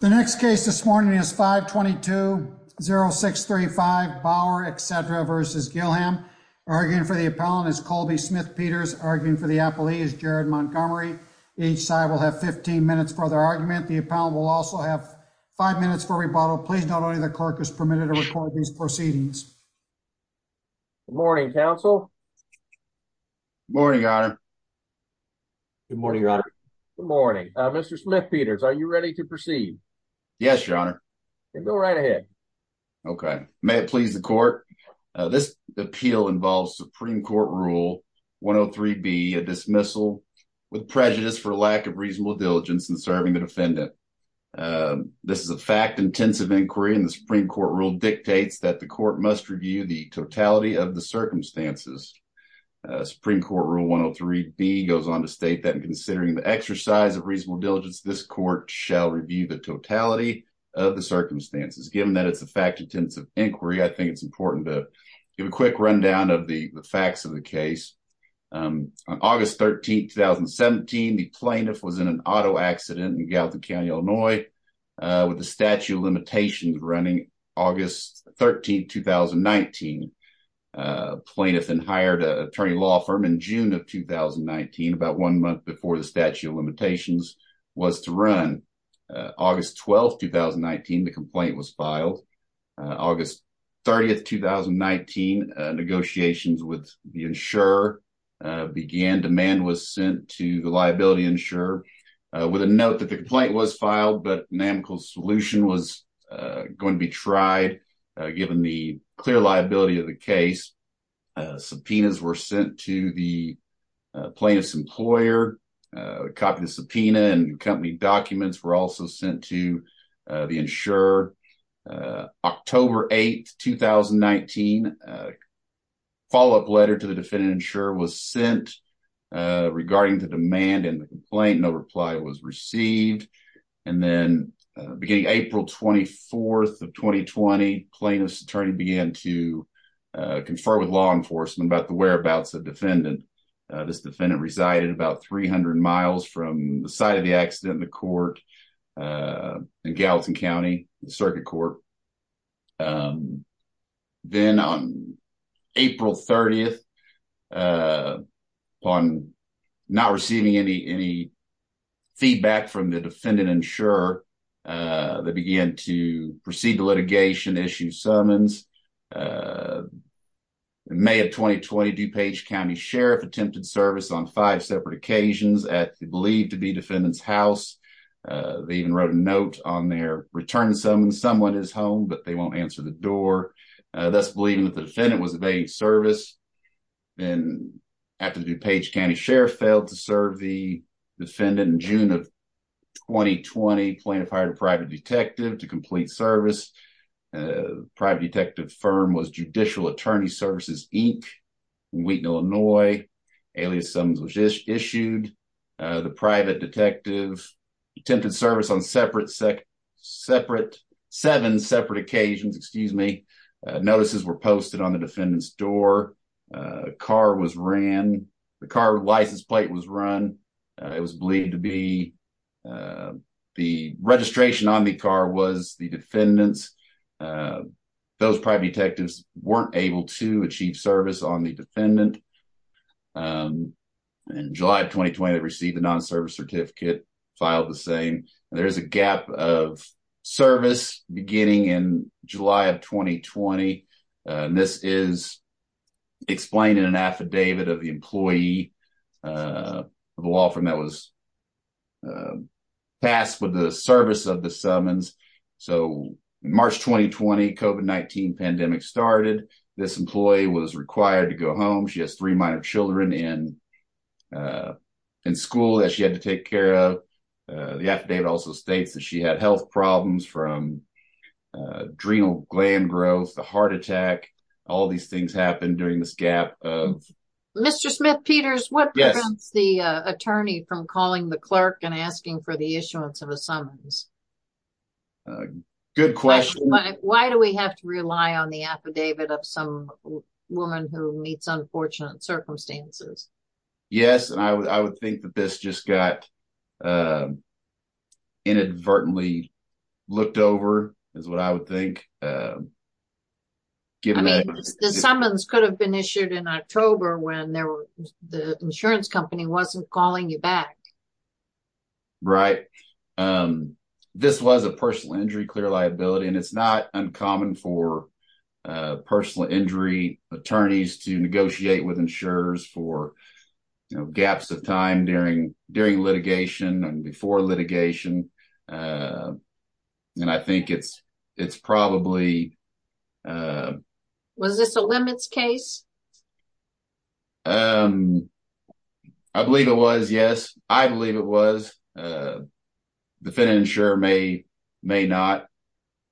The next case this morning is 522-0635, Bauer, etc. v. Gillham. Arguing for the appellant is Colby Smith-Peters. Arguing for the appellee is Jared Montgomery. Each side will have 15 minutes for their argument. The appellant will also have five minutes for rebuttal. Please note only the clerk is permitted to record these proceedings. Good morning, counsel. Good morning, your honor. Good morning, your honor. Good morning. Mr. Smith-Peters, are you ready to proceed? Yes, your honor. Then go right ahead. Okay. May it please the court. This appeal involves Supreme Court Rule 103B, a dismissal with prejudice for lack of reasonable diligence in serving the defendant. This is a fact-intensive inquiry, and the Supreme Court rule dictates that the court must review the totality of the circumstances. Supreme Court Rule 103B goes on to state that, considering the exercise of reasonable diligence, this court shall review the totality of the circumstances. Given that it's a fact-intensive inquiry, I think it's important to give a quick rundown of the facts of the case. On August 13, 2017, the plaintiff was in an auto accident in Gallatin County, Illinois, with the statute of limitations running August 13, 2019. The plaintiff then hired an attorney law firm in June of 2019, about one month before the statute of limitations was to run. August 12, 2019, the complaint was filed. August 30, 2019, negotiations with the insurer began. Demand was sent to the liability insurer with a note that the complaint was filed, but an amicable solution was going to be tried, given the clear liability of the case. Subpoenas were sent to the plaintiff's employer. A copy of the subpoena and company documents were also sent to the insurer. October 8, 2019, a follow-up letter to the plaintiff was received. April 24, 2020, the plaintiff's attorney began to confer with law enforcement about the whereabouts of the defendant. The defendant resided about 300 miles from the site of the accident in the court in Gallatin County. Then, on April 30, upon not receiving any feedback from the defendant insurer, they began to proceed to litigation, issue summons. May of 2020, DuPage County Sheriff attempted service on five separate occasions at the believed to be defendant's house. They even wrote a note on their return summons, someone is home, but they won't answer the door, thus believing that the defendant was evading service. Then, after the DuPage County Sheriff failed to serve the defendant in June of 2020, the plaintiff hired a private detective to complete service. The private detective firm was Judicial Attorney Services, Inc. in Wheaton, Illinois. The private detective attempted service on seven separate occasions. Notices were posted on the defendant's door. A car license plate was run. The registration on the car was the defendant's. Those private detectives weren't able to achieve service on the defendant. In July of 2020, they received a non-service certificate and filed the same. There is a gap of service beginning in July of 2020. This is explained in an affidavit of the employee of the law firm that was passed with the service of the summons. In March 2020, the COVID-19 pandemic started. This employee was required to go home. She has three minor children in school that she had to take care of. The affidavit also states that she had health problems from adrenal gland growth, a heart attack. All these things happened during this gap. Mr. Smith-Peters, what prevents the attorney from calling the clerk and asking for the issuance of a summons? Good question. Why do we have to rely on the affidavit of some woman who meets unfortunate circumstances? Yes, I would think that this just got inadvertently looked over. The summons could have been issued in October when the insurance company wasn't calling you back. Right. This was a personal injury clear liability. It's not uncommon for personal injury attorneys to negotiate with insurers for gaps of time during litigation and before litigation. I think it's probably... Was this a limits case? I believe it was, yes. I believe it was. The Fenton insurer may not.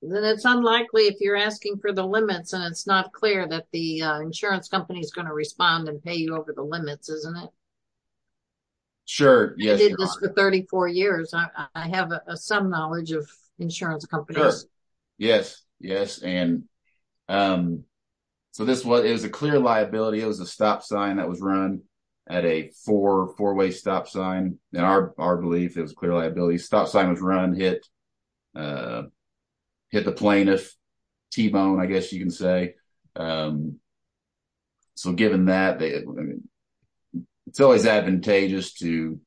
Then it's unlikely if you're asking for the limits and it's not clear that the insurance company is going to respond and pay you over the limits, isn't it? Sure, yes. I did this for 34 years. I have some knowledge of insurance companies. Yes, yes. It was a clear liability. It was a stop sign that was run at a four-way stop sign. In our belief, stop sign was run and hit the plaintiff's T-bone, I guess you can say. Given that, it's always advantageous to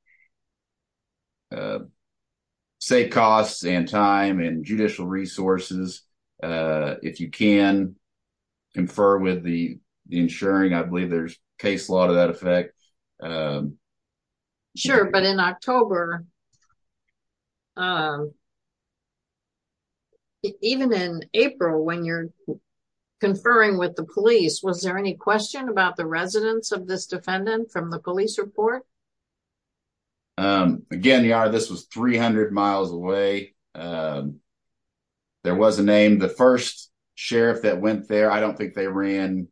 save costs and time and judicial resources. If you can, confer with the insuring. I believe there's case law to that effect. Sure, but in October, even in April, when you're conferring with the police, was there any question about the residence of this defendant from the police report? Again, this was 300 miles away. There was a name. The first sheriff that went there, I don't think they ran.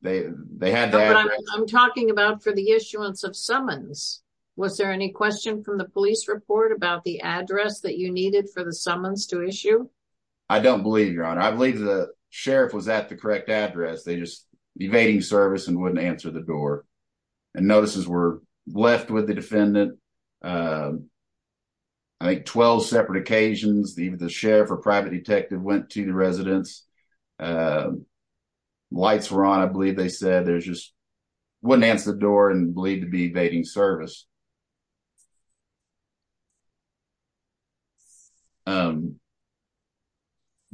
No, but I'm talking about for the issuance of summons. Was there any question from the police report about the address that you needed for the summons to issue? I don't believe, Your Honor. I believe the sheriff was at the correct address. They were evading service and wouldn't answer the door. Notices were left with the defendant. I think 12 separate occasions, the sheriff or private detective went to the residence. Lights were on. I believe they said they just wouldn't answer the door and believed to be evading service. But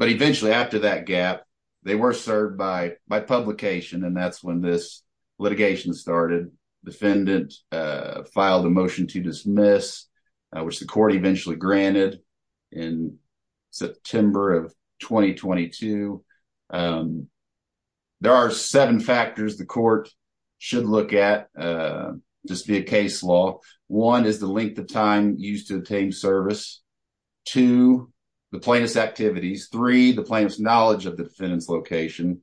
eventually, after that gap, they were served by publication, and that's when this litigation started. The defendant filed a motion to dismiss, which the court eventually granted in September of 2022. There are seven factors the court should look at, just via case law. One is the length of time used to obtain service. Two, the plaintiff's activities. Three, the plaintiff's knowledge of the defendant's location.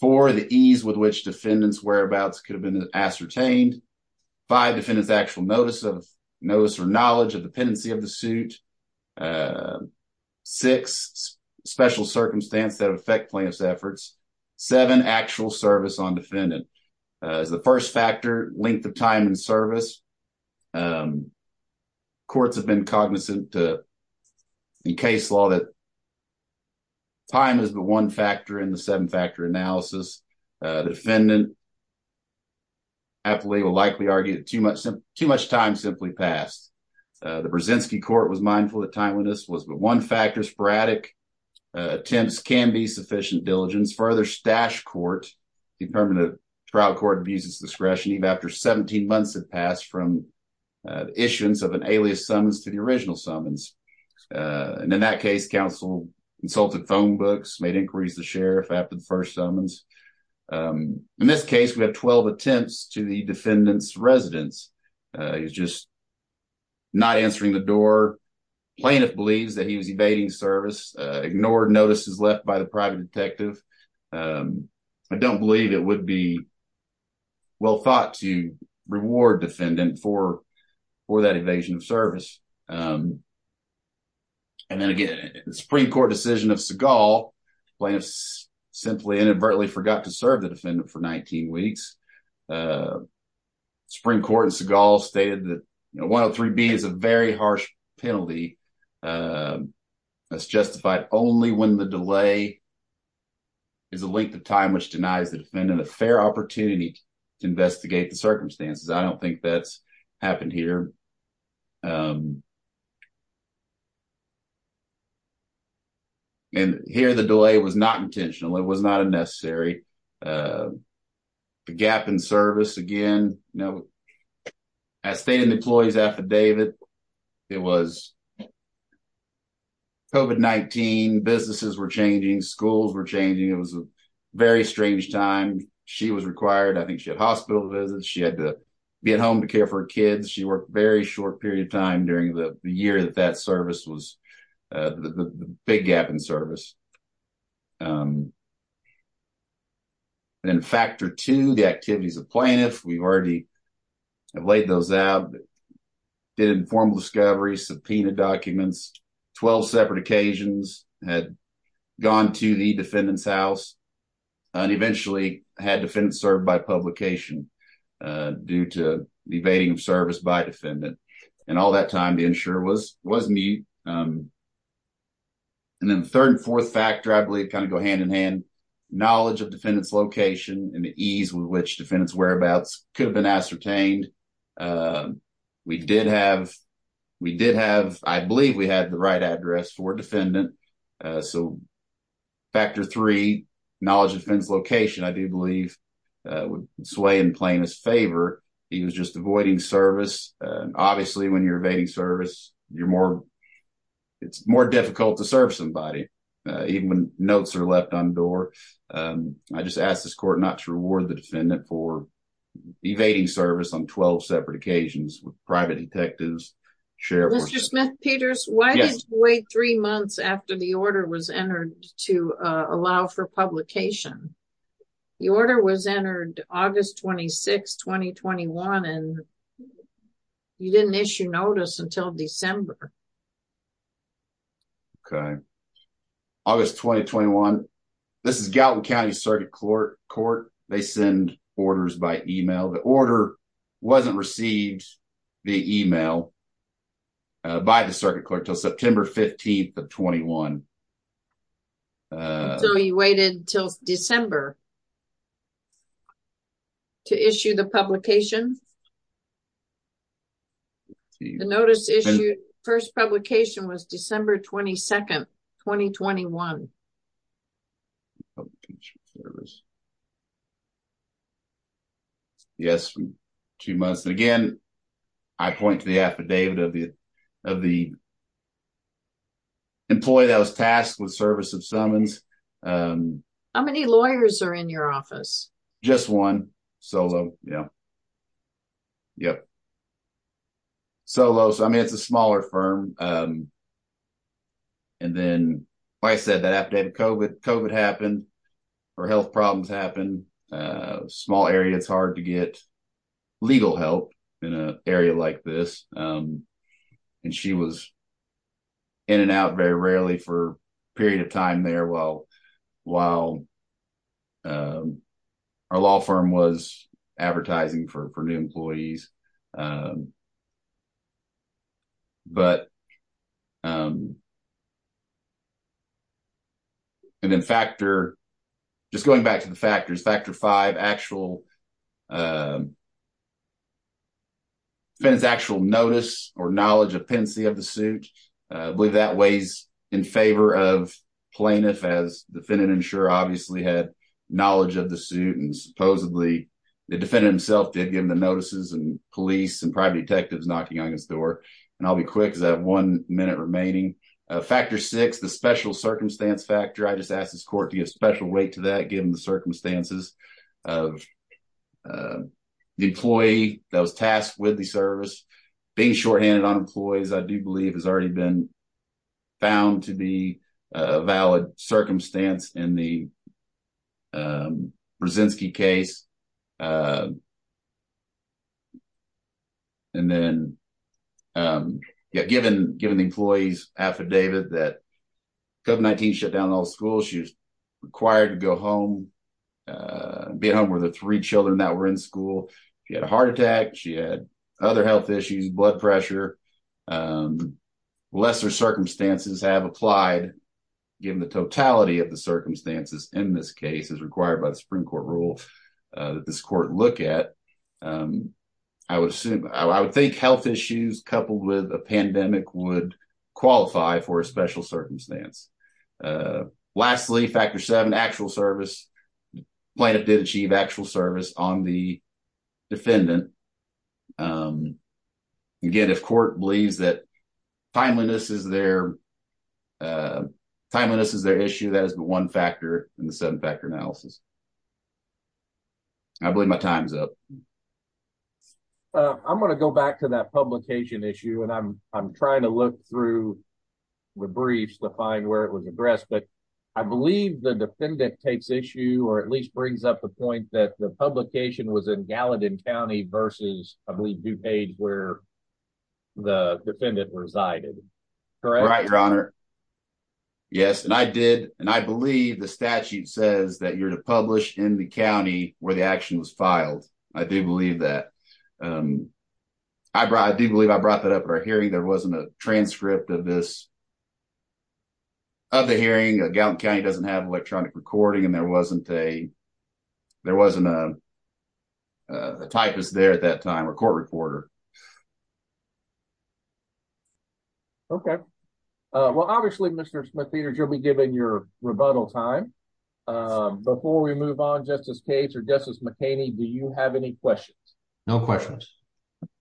Four, the ease with which defendant's whereabouts could have been ascertained. Five, defendant's actual notice or knowledge of the pendency of the suit. Six, special circumstance that affect plaintiff's efforts. Seven, actual service on defendant. As the first factor, length of time in service. Courts have been cognizant in case law that time is the one factor in the seven-factor analysis. The defendant will likely argue that too much time simply passed. The Brzezinski court was mindful that timeliness was the one factor. Sporadic attempts can be sufficient diligence. Further, Stash Court, the permanent trial court, abused its discretion even after 17 months had passed from issuance of an alias summons to the sheriff after the first summons. In this case, we have 12 attempts to the defendant's residence. He's just not answering the door. Plaintiff believes that he was evading service, ignored notices left by the private detective. I don't believe it would be well thought to reward defendant for that evasion of service. And then again, the Supreme Court decision of Segal, plaintiffs simply inadvertently forgot to serve the defendant for 19 weeks. The Supreme Court in Segal stated that 103B is a very harsh penalty that's justified only when the delay is a length of time which denies the defendant a fair opportunity to investigate the circumstances. I don't think that's happened here. And here the delay was not intentional. It was not a necessary. The gap in service again, you know, as stated in the employee's affidavit, it was COVID-19, businesses were changing, schools were changing. It was a very strange time. She was required, I think she had hospital visits. She had to be at home to care for her kids. She very short period of time during the year that that service was, the big gap in service. And factor two, the activities of plaintiff, we've already laid those out, did informal discovery, subpoenaed documents, 12 separate occasions, had gone to the defendant's publication due to the evading of service by defendant. And all that time to ensure it was me. And then third and fourth factor, I believe, kind of go hand in hand, knowledge of defendant's location and the ease with which defendant's whereabouts could have been ascertained. We did have, we did have, I believe we had the right address for defendant. So factor three, knowledge of defendant's location, I do believe would sway in plaintiff's favor. He was just avoiding service. Obviously when you're evading service, you're more, it's more difficult to serve somebody, even when notes are left on door. I just asked this court not to reward the defendant for evading service on 12 separate occasions with private detectives. Mr. Smith-Peters, why did you wait three months after the order was entered to allow for publication? The order was entered August 26, 2021, and you didn't issue notice until December. Okay. August 2021. This is Gallatin County Circuit Court. They send orders by email. The order wasn't received via email by the circuit court until September 15th of 21. So you waited until December to issue the publication? The notice issued first publication was December 22nd, 2021. Yes, two months. And again, I point to the affidavit of the, of the employee that was tasked with service of summons. How many lawyers are in your office? Just one. Solo. Yeah. Yep. Solo. So I mean, it's a smaller firm. Um, and then I said that after COVID, COVID happened, or health problems happen, small area, it's hard to get legal help in an area like this. And she was in and out very rarely for a period of time there while, while our law firm was advertising for new employees. Um, but, um, and then factor, just going back to the factors, factor five, actual, um, actual notice or knowledge of pendency of the suit. I believe that weighs in favor of plaintiff as defendant insurer obviously had knowledge of the suit. And supposedly the defendant himself did give him the notices and police and private detectives knocking on his door. And I'll be quick because I have one minute remaining. Factor six, the special circumstance factor. I just asked this court to give special weight to that given the circumstances of the employee that was tasked with the service being shorthanded on employees, I do believe has already been found to be a valid circumstance in the case. Um, and then, um, yeah, given, given the employees affidavit that COVID-19 shut down all schools, she was required to go home, uh, be at home with the three children that were in school. She had a heart attack. She had other health issues, blood pressure, um, lesser circumstances have applied given the totality of the circumstances in this case as required by the this court look at, um, I would assume, I would think health issues coupled with a pandemic would qualify for a special circumstance. Uh, lastly, factor seven, actual service plaintiff did achieve actual service on the defendant. Um, again, if court believes that timeliness is their, uh, timeliness is their issue, that is the one factor in the seven factor analysis. I believe my time's up. Uh, I'm going to go back to that publication issue and I'm, I'm trying to look through the briefs to find where it was addressed, but I believe the defendant takes issue or at least brings up the point that the publication was in Gallatin County versus, I believe DuPage where the defendant resided, correct? Right, your honor. Yes, and I did, and I believe the statute says that you're to publish in the county where the action was filed. I do believe that, um, I brought, I do believe I brought that up at our hearing. There wasn't a transcript of this, of the hearing. Gallatin County doesn't have electronic recording and there wasn't a, there wasn't a typist there at that time or court reporter. Okay. Uh, well, obviously Mr. Smith-Peters, you'll be given your rebuttal time. Um, before we move on, Justice Cates or Justice McHaney, do you have any questions? No questions.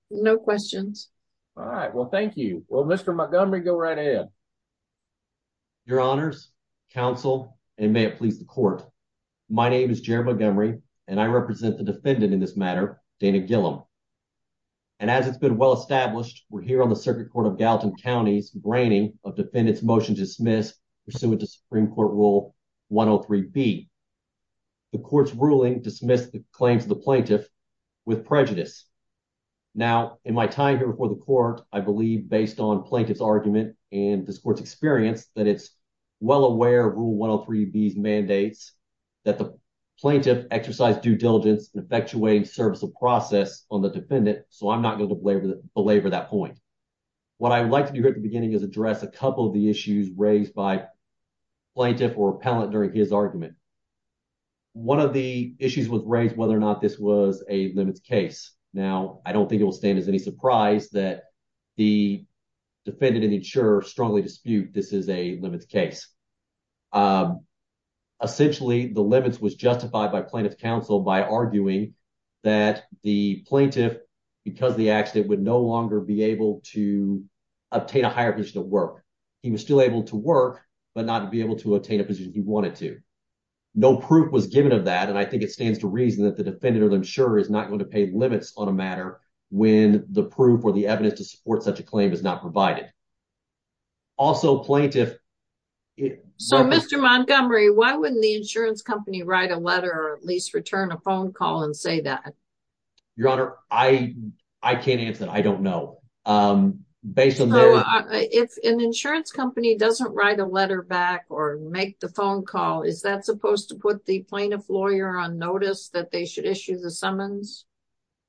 No questions. All right. Well, thank you. Well, Mr. Montgomery, go right ahead. Your honors, counsel, and may it please the court. My name is Jared Montgomery and I represent the As it's been well-established, we're here on the circuit court of Gallatin County's braining of defendant's motion to dismiss pursuant to Supreme Court rule 103B. The court's ruling dismissed the claims of the plaintiff with prejudice. Now, in my time here before the court, I believe based on plaintiff's argument and this court's experience that it's well aware of rule 103B's mandates that the plaintiff exercise due diligence and effectuating service of process on the defendant. So, I'm not going to belabor that point. What I would like to do here at the beginning is address a couple of the issues raised by plaintiff or appellant during his argument. One of the issues was raised whether or not this was a limits case. Now, I don't think it will stand as any surprise that the defendant and insurer strongly dispute this is a limits case. Essentially, the limits was justified by plaintiff's counsel by arguing that the plaintiff because the accident would no longer be able to obtain a higher position at work. He was still able to work but not to be able to obtain a position he wanted to. No proof was given of that and I think it stands to reason that the defendant or the insurer is not going to pay limits on a matter when the proof or the evidence to support such a claim is not provided. Also, plaintiff... So, Mr. Montgomery, why wouldn't the insurance company write a letter or at least return a phone call and say that? Your Honor, I can't answer that. I don't know. If an insurance company doesn't write a letter back or make the phone call, is that supposed to put the plaintiff lawyer on notice that they should issue the summons?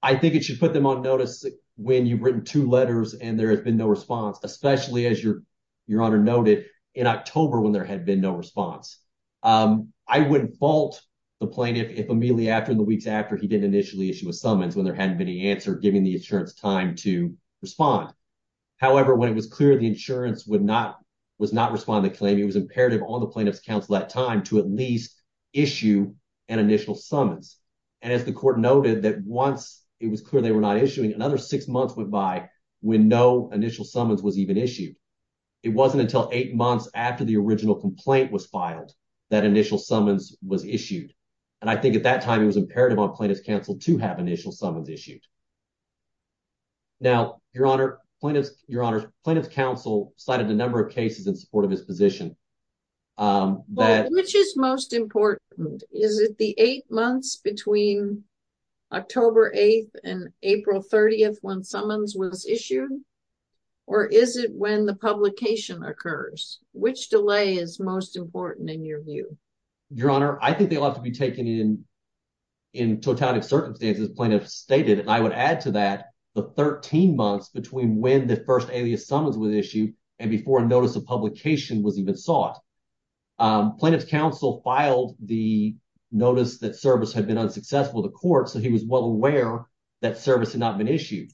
I think it should put them on notice when you've written two letters and there has been no response, especially, as Your Honor noted, in October when there had been no response. I wouldn't fault the plaintiff if immediately after, in the weeks after, he didn't initially issue a summons when there hadn't been any answer, giving the insurance time to respond. However, when it was clear the insurance was not responding to the claim, it was imperative on the plaintiff's counsel at that time to at least issue an initial summons. And as the court noted that once it was clear they were not issuing, another six months went by when no summons was even issued. It wasn't until eight months after the original complaint was filed that initial summons was issued. And I think at that time it was imperative on plaintiff's counsel to have initial summons issued. Now, Your Honor, plaintiff's counsel cited a number of cases in support of his position. Which is most important? Is it the eight months between October 8th and April 30th when summons was issued? Or is it when the publication occurs? Which delay is most important in your view? Your Honor, I think they'll have to be taken in totality of circumstances. Plaintiff stated, and I would add to that, the 13 months between when the first alias summons was issued and before a notice of publication was even sought. Plaintiff's counsel filed the notice that service had been unsuccessful to court, so he was well aware that service had not been issued.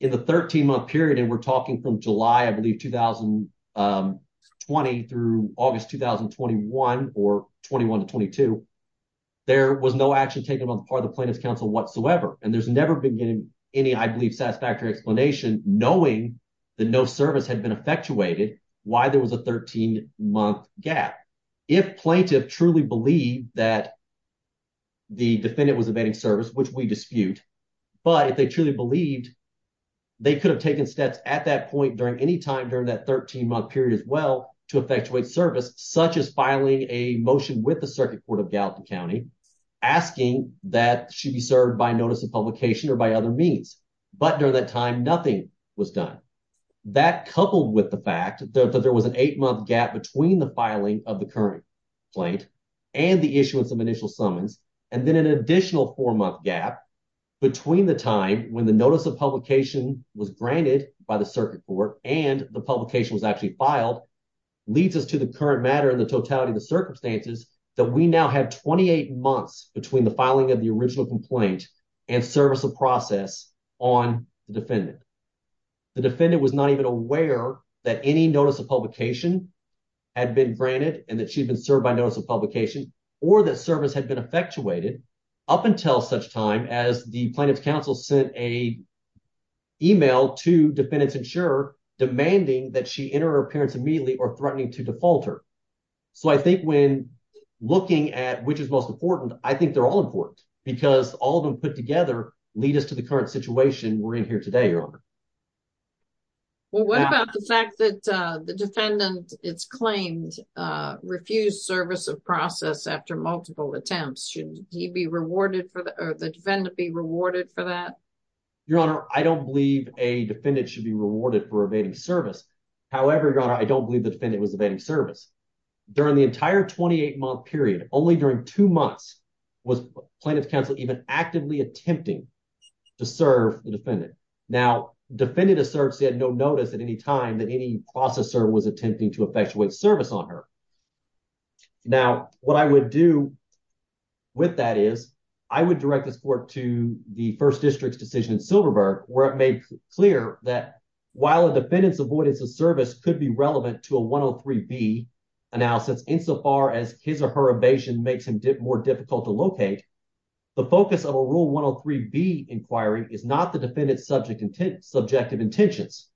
In the 13-month period, and we're talking from July, I believe, 2020 through August 2021, or 21 to 22, there was no action taken on the part of the plaintiff's counsel whatsoever. And there's never been any, I believe, satisfactory explanation knowing that no service had been effectuated, why there was a 13-month gap. If plaintiff truly believed that the defendant was evading service, which we dispute, but if they truly believed they could have taken steps at that point during any time during that 13-month period as well to effectuate service, such as filing a motion with the Circuit Court of Gallatin County asking that it should be served by notice of publication or by other means. But during that time, nothing was done. That coupled with the fact that there was an eight-month gap between the filing of the current plaintiff and the issuance of initial summons, and then an notice of publication was granted by the Circuit Court and the publication was actually filed, leads us to the current matter and the totality of the circumstances that we now have 28 months between the filing of the original complaint and service of process on the defendant. The defendant was not even aware that any notice of publication had been granted and that she'd been served by notice of publication or that service had been effectuated up until such time as the plaintiff's counsel sent an email to defendant's insurer demanding that she enter her appearance immediately or threatening to default her. So, I think when looking at which is most important, I think they're all important because all of them put together lead us to the current situation we're in here today, Your Honor. Well, what about the fact that the defendant, it's claimed, refused service of process after multiple attempts. Should he be rewarded for that, or the defendant be rewarded for that? Your Honor, I don't believe a defendant should be rewarded for evading service. However, Your Honor, I don't believe the defendant was evading service. During the entire 28-month period, only during two months, was plaintiff's counsel even actively attempting to serve the defendant. Now, defendant asserts he had no notice at any time that any processor was attempting to effectuate service on her. Now, what I would do with that is I would direct this court to the First District's decision in Silverberg where it made clear that while a defendant's avoidance of service could be relevant to a 103B analysis insofar as his or her evasion makes him more difficult to locate, the focus of a Rule 103B inquiry is not the defendant's subjective intentions.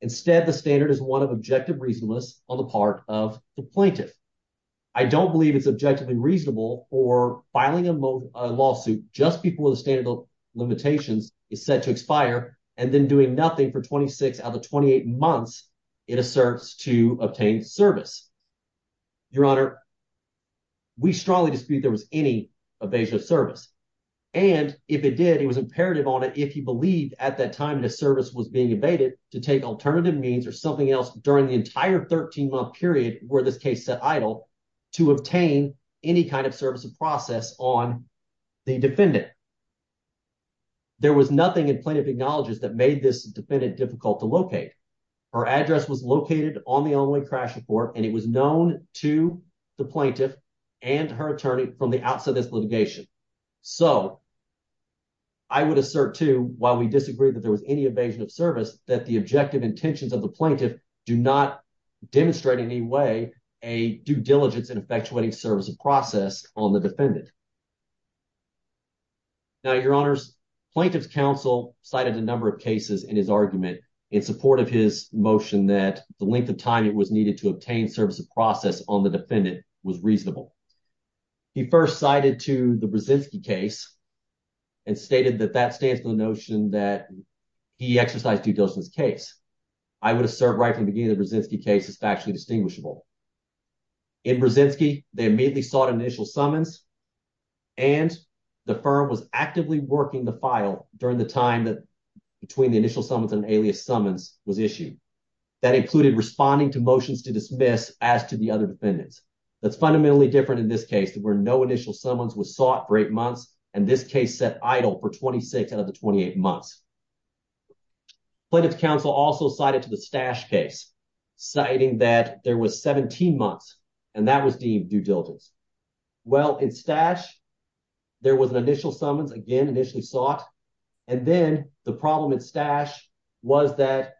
Instead, the standard is one of objective reasonableness on the part of the plaintiff. I don't believe it's objectively reasonable for filing a lawsuit just before the standard of limitations is set to expire and then doing nothing for 26 out of the 28 months it asserts to obtain service. Your Honor, we strongly dispute there was any evasion of service, and if it did, it was imperative on it if he believed at that time the service was being evaded to take alternative means or something else during the entire 13-month period where this case set idle to obtain any kind of service of process on the defendant. There was nothing in Plaintiff Acknowledges that made this defendant difficult to locate. Her address was located on the only crash report and it was known to the plaintiff and her attorney from the outset of this litigation. So I would assert, too, while we disagree that there was any evasion of service, that the objective intentions of the plaintiff do not demonstrate in any way a due diligence in effectuating service of process on the defendant. Now, Your Honors, Plaintiff's counsel cited a number of cases in his argument in support of his motion that the length of time it was needed to obtain service of process on the defendant was reasonable. He first cited to the Brzezinski case and stated that that stands for the notion that he exercised due diligence case. I would assert right from the beginning the Brzezinski case is factually distinguishable. In Brzezinski, they immediately sought initial summons, and the firm was actively working the file during the time that between the initial summons and alias summons was issued. That included responding to motions to dismiss as to the other defendants. That's fundamentally different in this case where no initial summons was sought for eight months, and this case set idle for 26 out of the 28 months. Plaintiff's counsel also cited to the Stasch case, citing that there was 17 months, and that was deemed due diligence. Well, in Stasch, there was an initial summons, again, initially sought, and then the problem in Stasch was that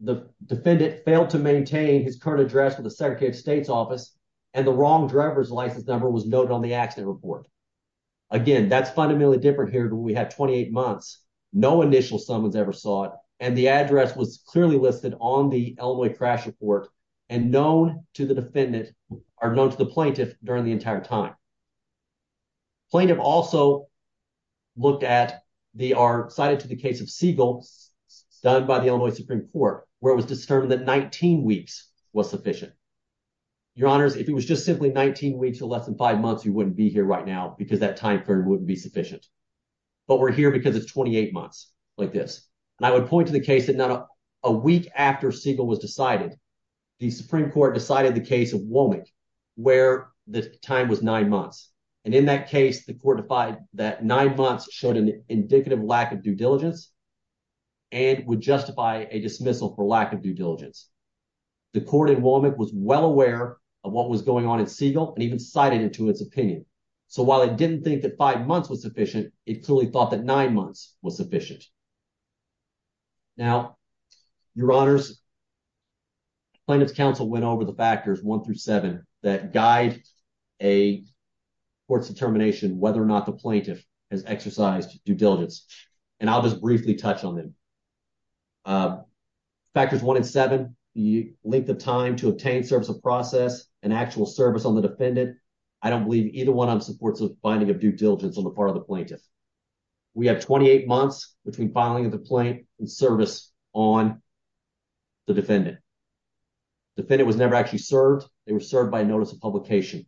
the defendant failed to maintain his current address with the Segregated States Office, and the wrong driver's license number was noted on the accident report. Again, that's fundamentally different here. We had 28 months, no initial summons ever sought, and the address was clearly listed on the Illinois crash report and known to the plaintiff during the entire time. Plaintiff also cited to the case of Siegel, done by the Illinois Supreme Court, where it was determined that 19 weeks was sufficient. Your honors, if it was just simply 19 weeks to less than five months, you wouldn't be here right now because that time period wouldn't be sufficient, but we're here because it's 28 months like this, and I would point to the case that not a week after Siegel was decided, the Supreme Court decided the case of Womack where the time was nine months, and in that case, the court defied that nine months showed an dismissal for lack of due diligence. The court in Womack was well aware of what was going on in Siegel and even cited it to its opinion, so while it didn't think that five months was sufficient, it clearly thought that nine months was sufficient. Now, your honors, plaintiff's counsel went over the factors one through seven that guide a court's determination whether or not the plaintiff has served. Factors one and seven, the length of time to obtain service of process and actual service on the defendant. I don't believe either one of them supports the finding of due diligence on the part of the plaintiff. We have 28 months between filing of the plaintiff and service on the defendant. Defendant was never actually served. They were served by notice of publication.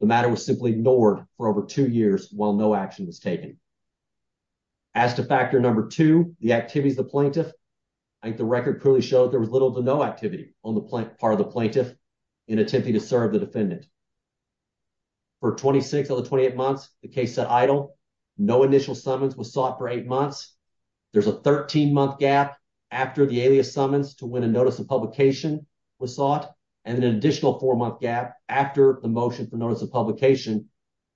The matter was simply ignored for over two years while no action was taken. As to factor number two, the activities of the plaintiff, I think the record clearly showed there was little to no activity on the part of the plaintiff in attempting to serve the defendant. For 26 of the 28 months, the case set idle. No initial summons was sought for eight months. There's a 13-month gap after the alias summons to when a notice of publication was sought and an additional four-month gap after the motion for notice of publication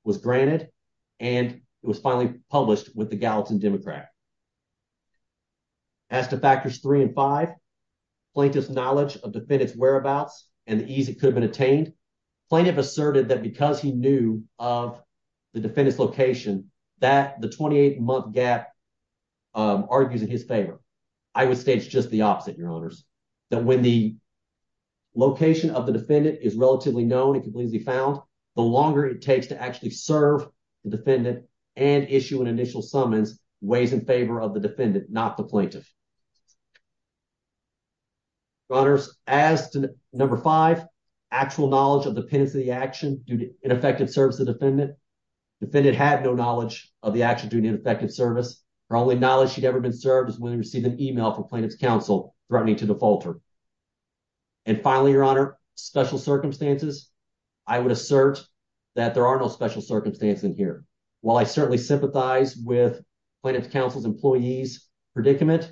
was granted and it was finally published with the Gallatin Democrat. As to factors three and five, plaintiff's knowledge of defendant's whereabouts and the ease it could have been attained, plaintiff asserted that because he knew of the defendant's location that the 28-month gap argues in his favor. I would stage just the opposite, your honors, that when the location of the defendant is relatively known and completely found, the longer it takes to actually serve the defendant and issue an initial summons weighs in favor of the defendant, not the plaintiff. Your honors, as to number five, actual knowledge of the penance of the action due to ineffective service of the defendant, defendant had no knowledge of the action due to ineffective service. Her only knowledge she'd ever been served is when she received an email from plaintiff's counsel threatening to default her. And finally, your honor, special circumstances, I would assert that there are no special circumstances in here. While I certainly sympathize with plaintiff's counsel's employee's predicament,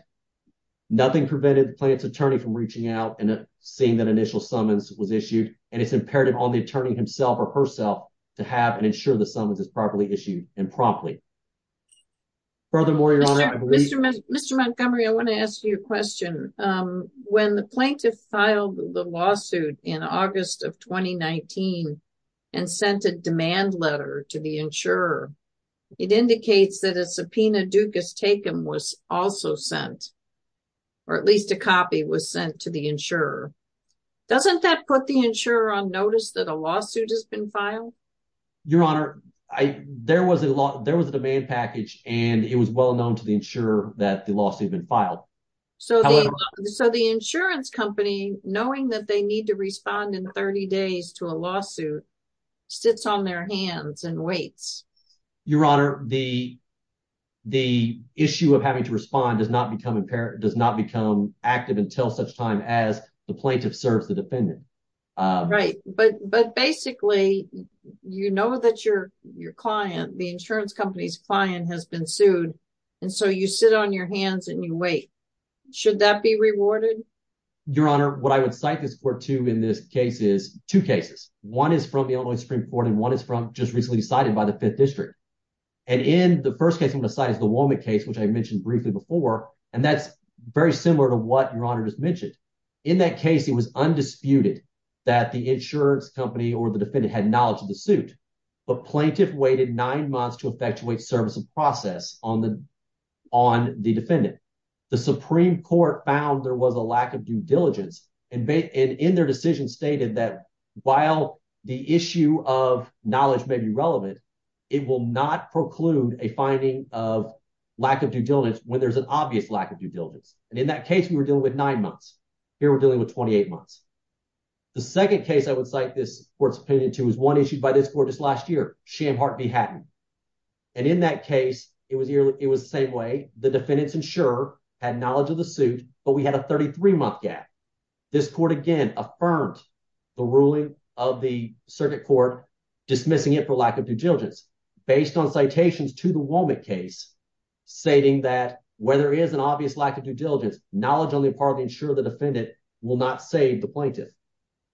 nothing prevented plaintiff's attorney from reaching out and seeing that initial summons was issued and it's imperative on the attorney himself or herself to have and ensure the summons is properly issued and promptly. Furthermore, your honor, Mr. Montgomery, I want to ask you a question. When the plaintiff filed the lawsuit in August of 2019 and sent a demand letter to the insurer, it indicates that a subpoena Dukas-Takum was also sent, or at least a copy was sent to the insurer. Doesn't that put the insurer on notice that a lawsuit has been filed? Your honor, there was a demand package and it was well known to the insurer that the lawsuit had been filed. So the insurance company, knowing that they need to respond in 30 days to a lawsuit, sits on their hands and waits. Your honor, the issue of having to respond does not become active until such time as the plaintiff serves the defendant. Right. But basically, you know that your client, the insurance company's client has been sued and so you sit on your hands and you wait. Should that be rewarded? Your honor, what I would cite this court to in this case is two cases. One is from the Illinois Supreme Court and one is from just recently decided by the Fifth District. And in the first case I'm going to cite is the Womack case, which I mentioned briefly before, and that's very similar to what your honor just mentioned. In that case, it was undisputed that the insurance company or the defendant had knowledge of the suit, but plaintiff waited nine months to effectuate service of process on the defendant. The Supreme Court found there was a lack of due diligence and in their decision stated that while the issue of knowledge may be relevant, it will not preclude a finding of lack of due diligence when there's an obvious lack of due diligence. And in that case, we were dealing with nine months. Here, we're dealing with 28 months. The second case I would cite this court's opinion to is one issued by this court just last year, Shamhart v. Hatton. And in that case, it was the same way. The defendant's insurer had knowledge of the suit, but we had a 33-month gap. This court, again, affirmed the ruling of the circuit court dismissing it for lack of due diligence. Based on citations to the Womack case stating that where there is an obvious lack of due diligence, knowledge only partly ensure the defendant will not save the plaintiff.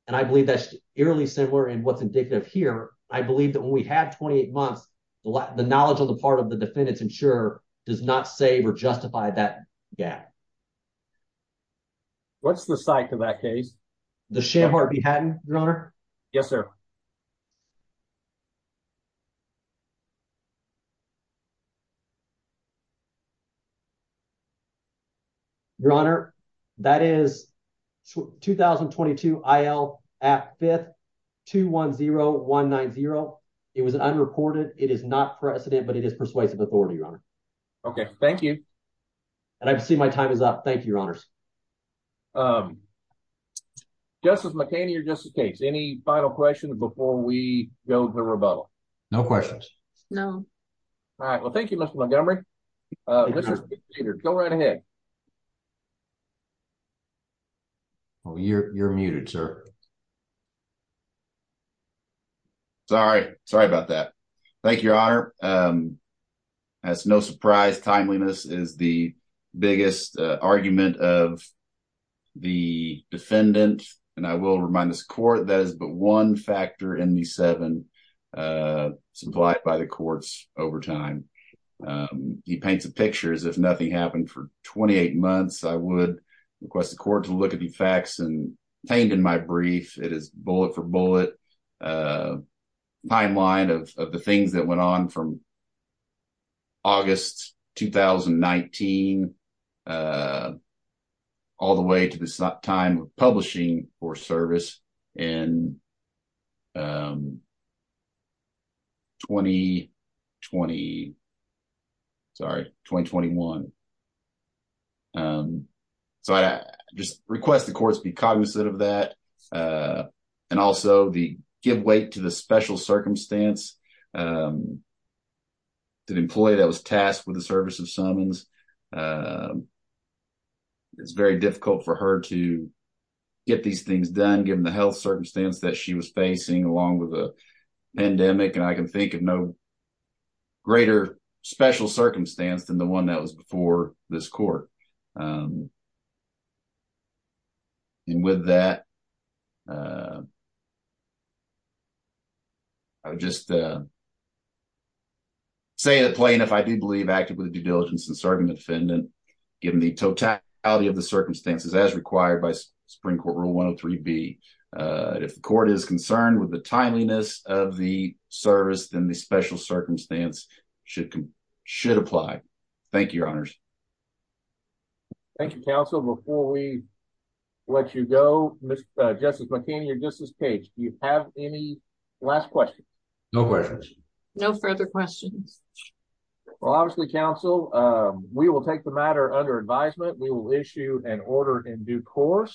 And I believe that's eerily similar in what's indicative here. I believe that when we had 28 months, the knowledge of the part of the defendant's insurer does not save or justify that gap. What's the site for that case? The site is 210190. It was unreported. It is not precedent, but it is persuasive authority, Your Honor. Okay. Thank you. And I see my time is up. Thank you, Your Honors. Justice McHaney or Justice Cates, any final questions before we go to rebuttal? No questions. No. All right. Well, thank you, Mr. Montgomery. Go right ahead. Oh, you're muted, sir. Sorry. Sorry about that. Thank you, Your Honor. That's no surprise. Timeliness is the biggest argument of the defendant. And I will remind this court that is but one factor in the I would request the court to look at the facts contained in my brief. It is bullet for bullet timeline of the things that went on from August 2019 all the way to the time of publishing for service in 2020. Sorry, 2021. So I just request the courts be cognizant of that. And also the give way to the special circumstance that employee that was tasked with the service of summons. It's very difficult for her to get these things done given the health circumstance that she was facing along with a pandemic. And I can think of no greater special circumstance than the one that was before this court. And with that, I would just say it plain if I do believe actively due to serving the defendant, given the totality of the circumstances as required by Supreme Court Rule 103 B. If the court is concerned with the timeliness of the service, then the special circumstance should apply. Thank you, Your Honors. Thank you, counsel. Before we let you go, Justice McCain, Justice Page, do you have any last questions? No questions. No further questions. Well, obviously, counsel, we will take the matter under advisement. We will issue an order in due course.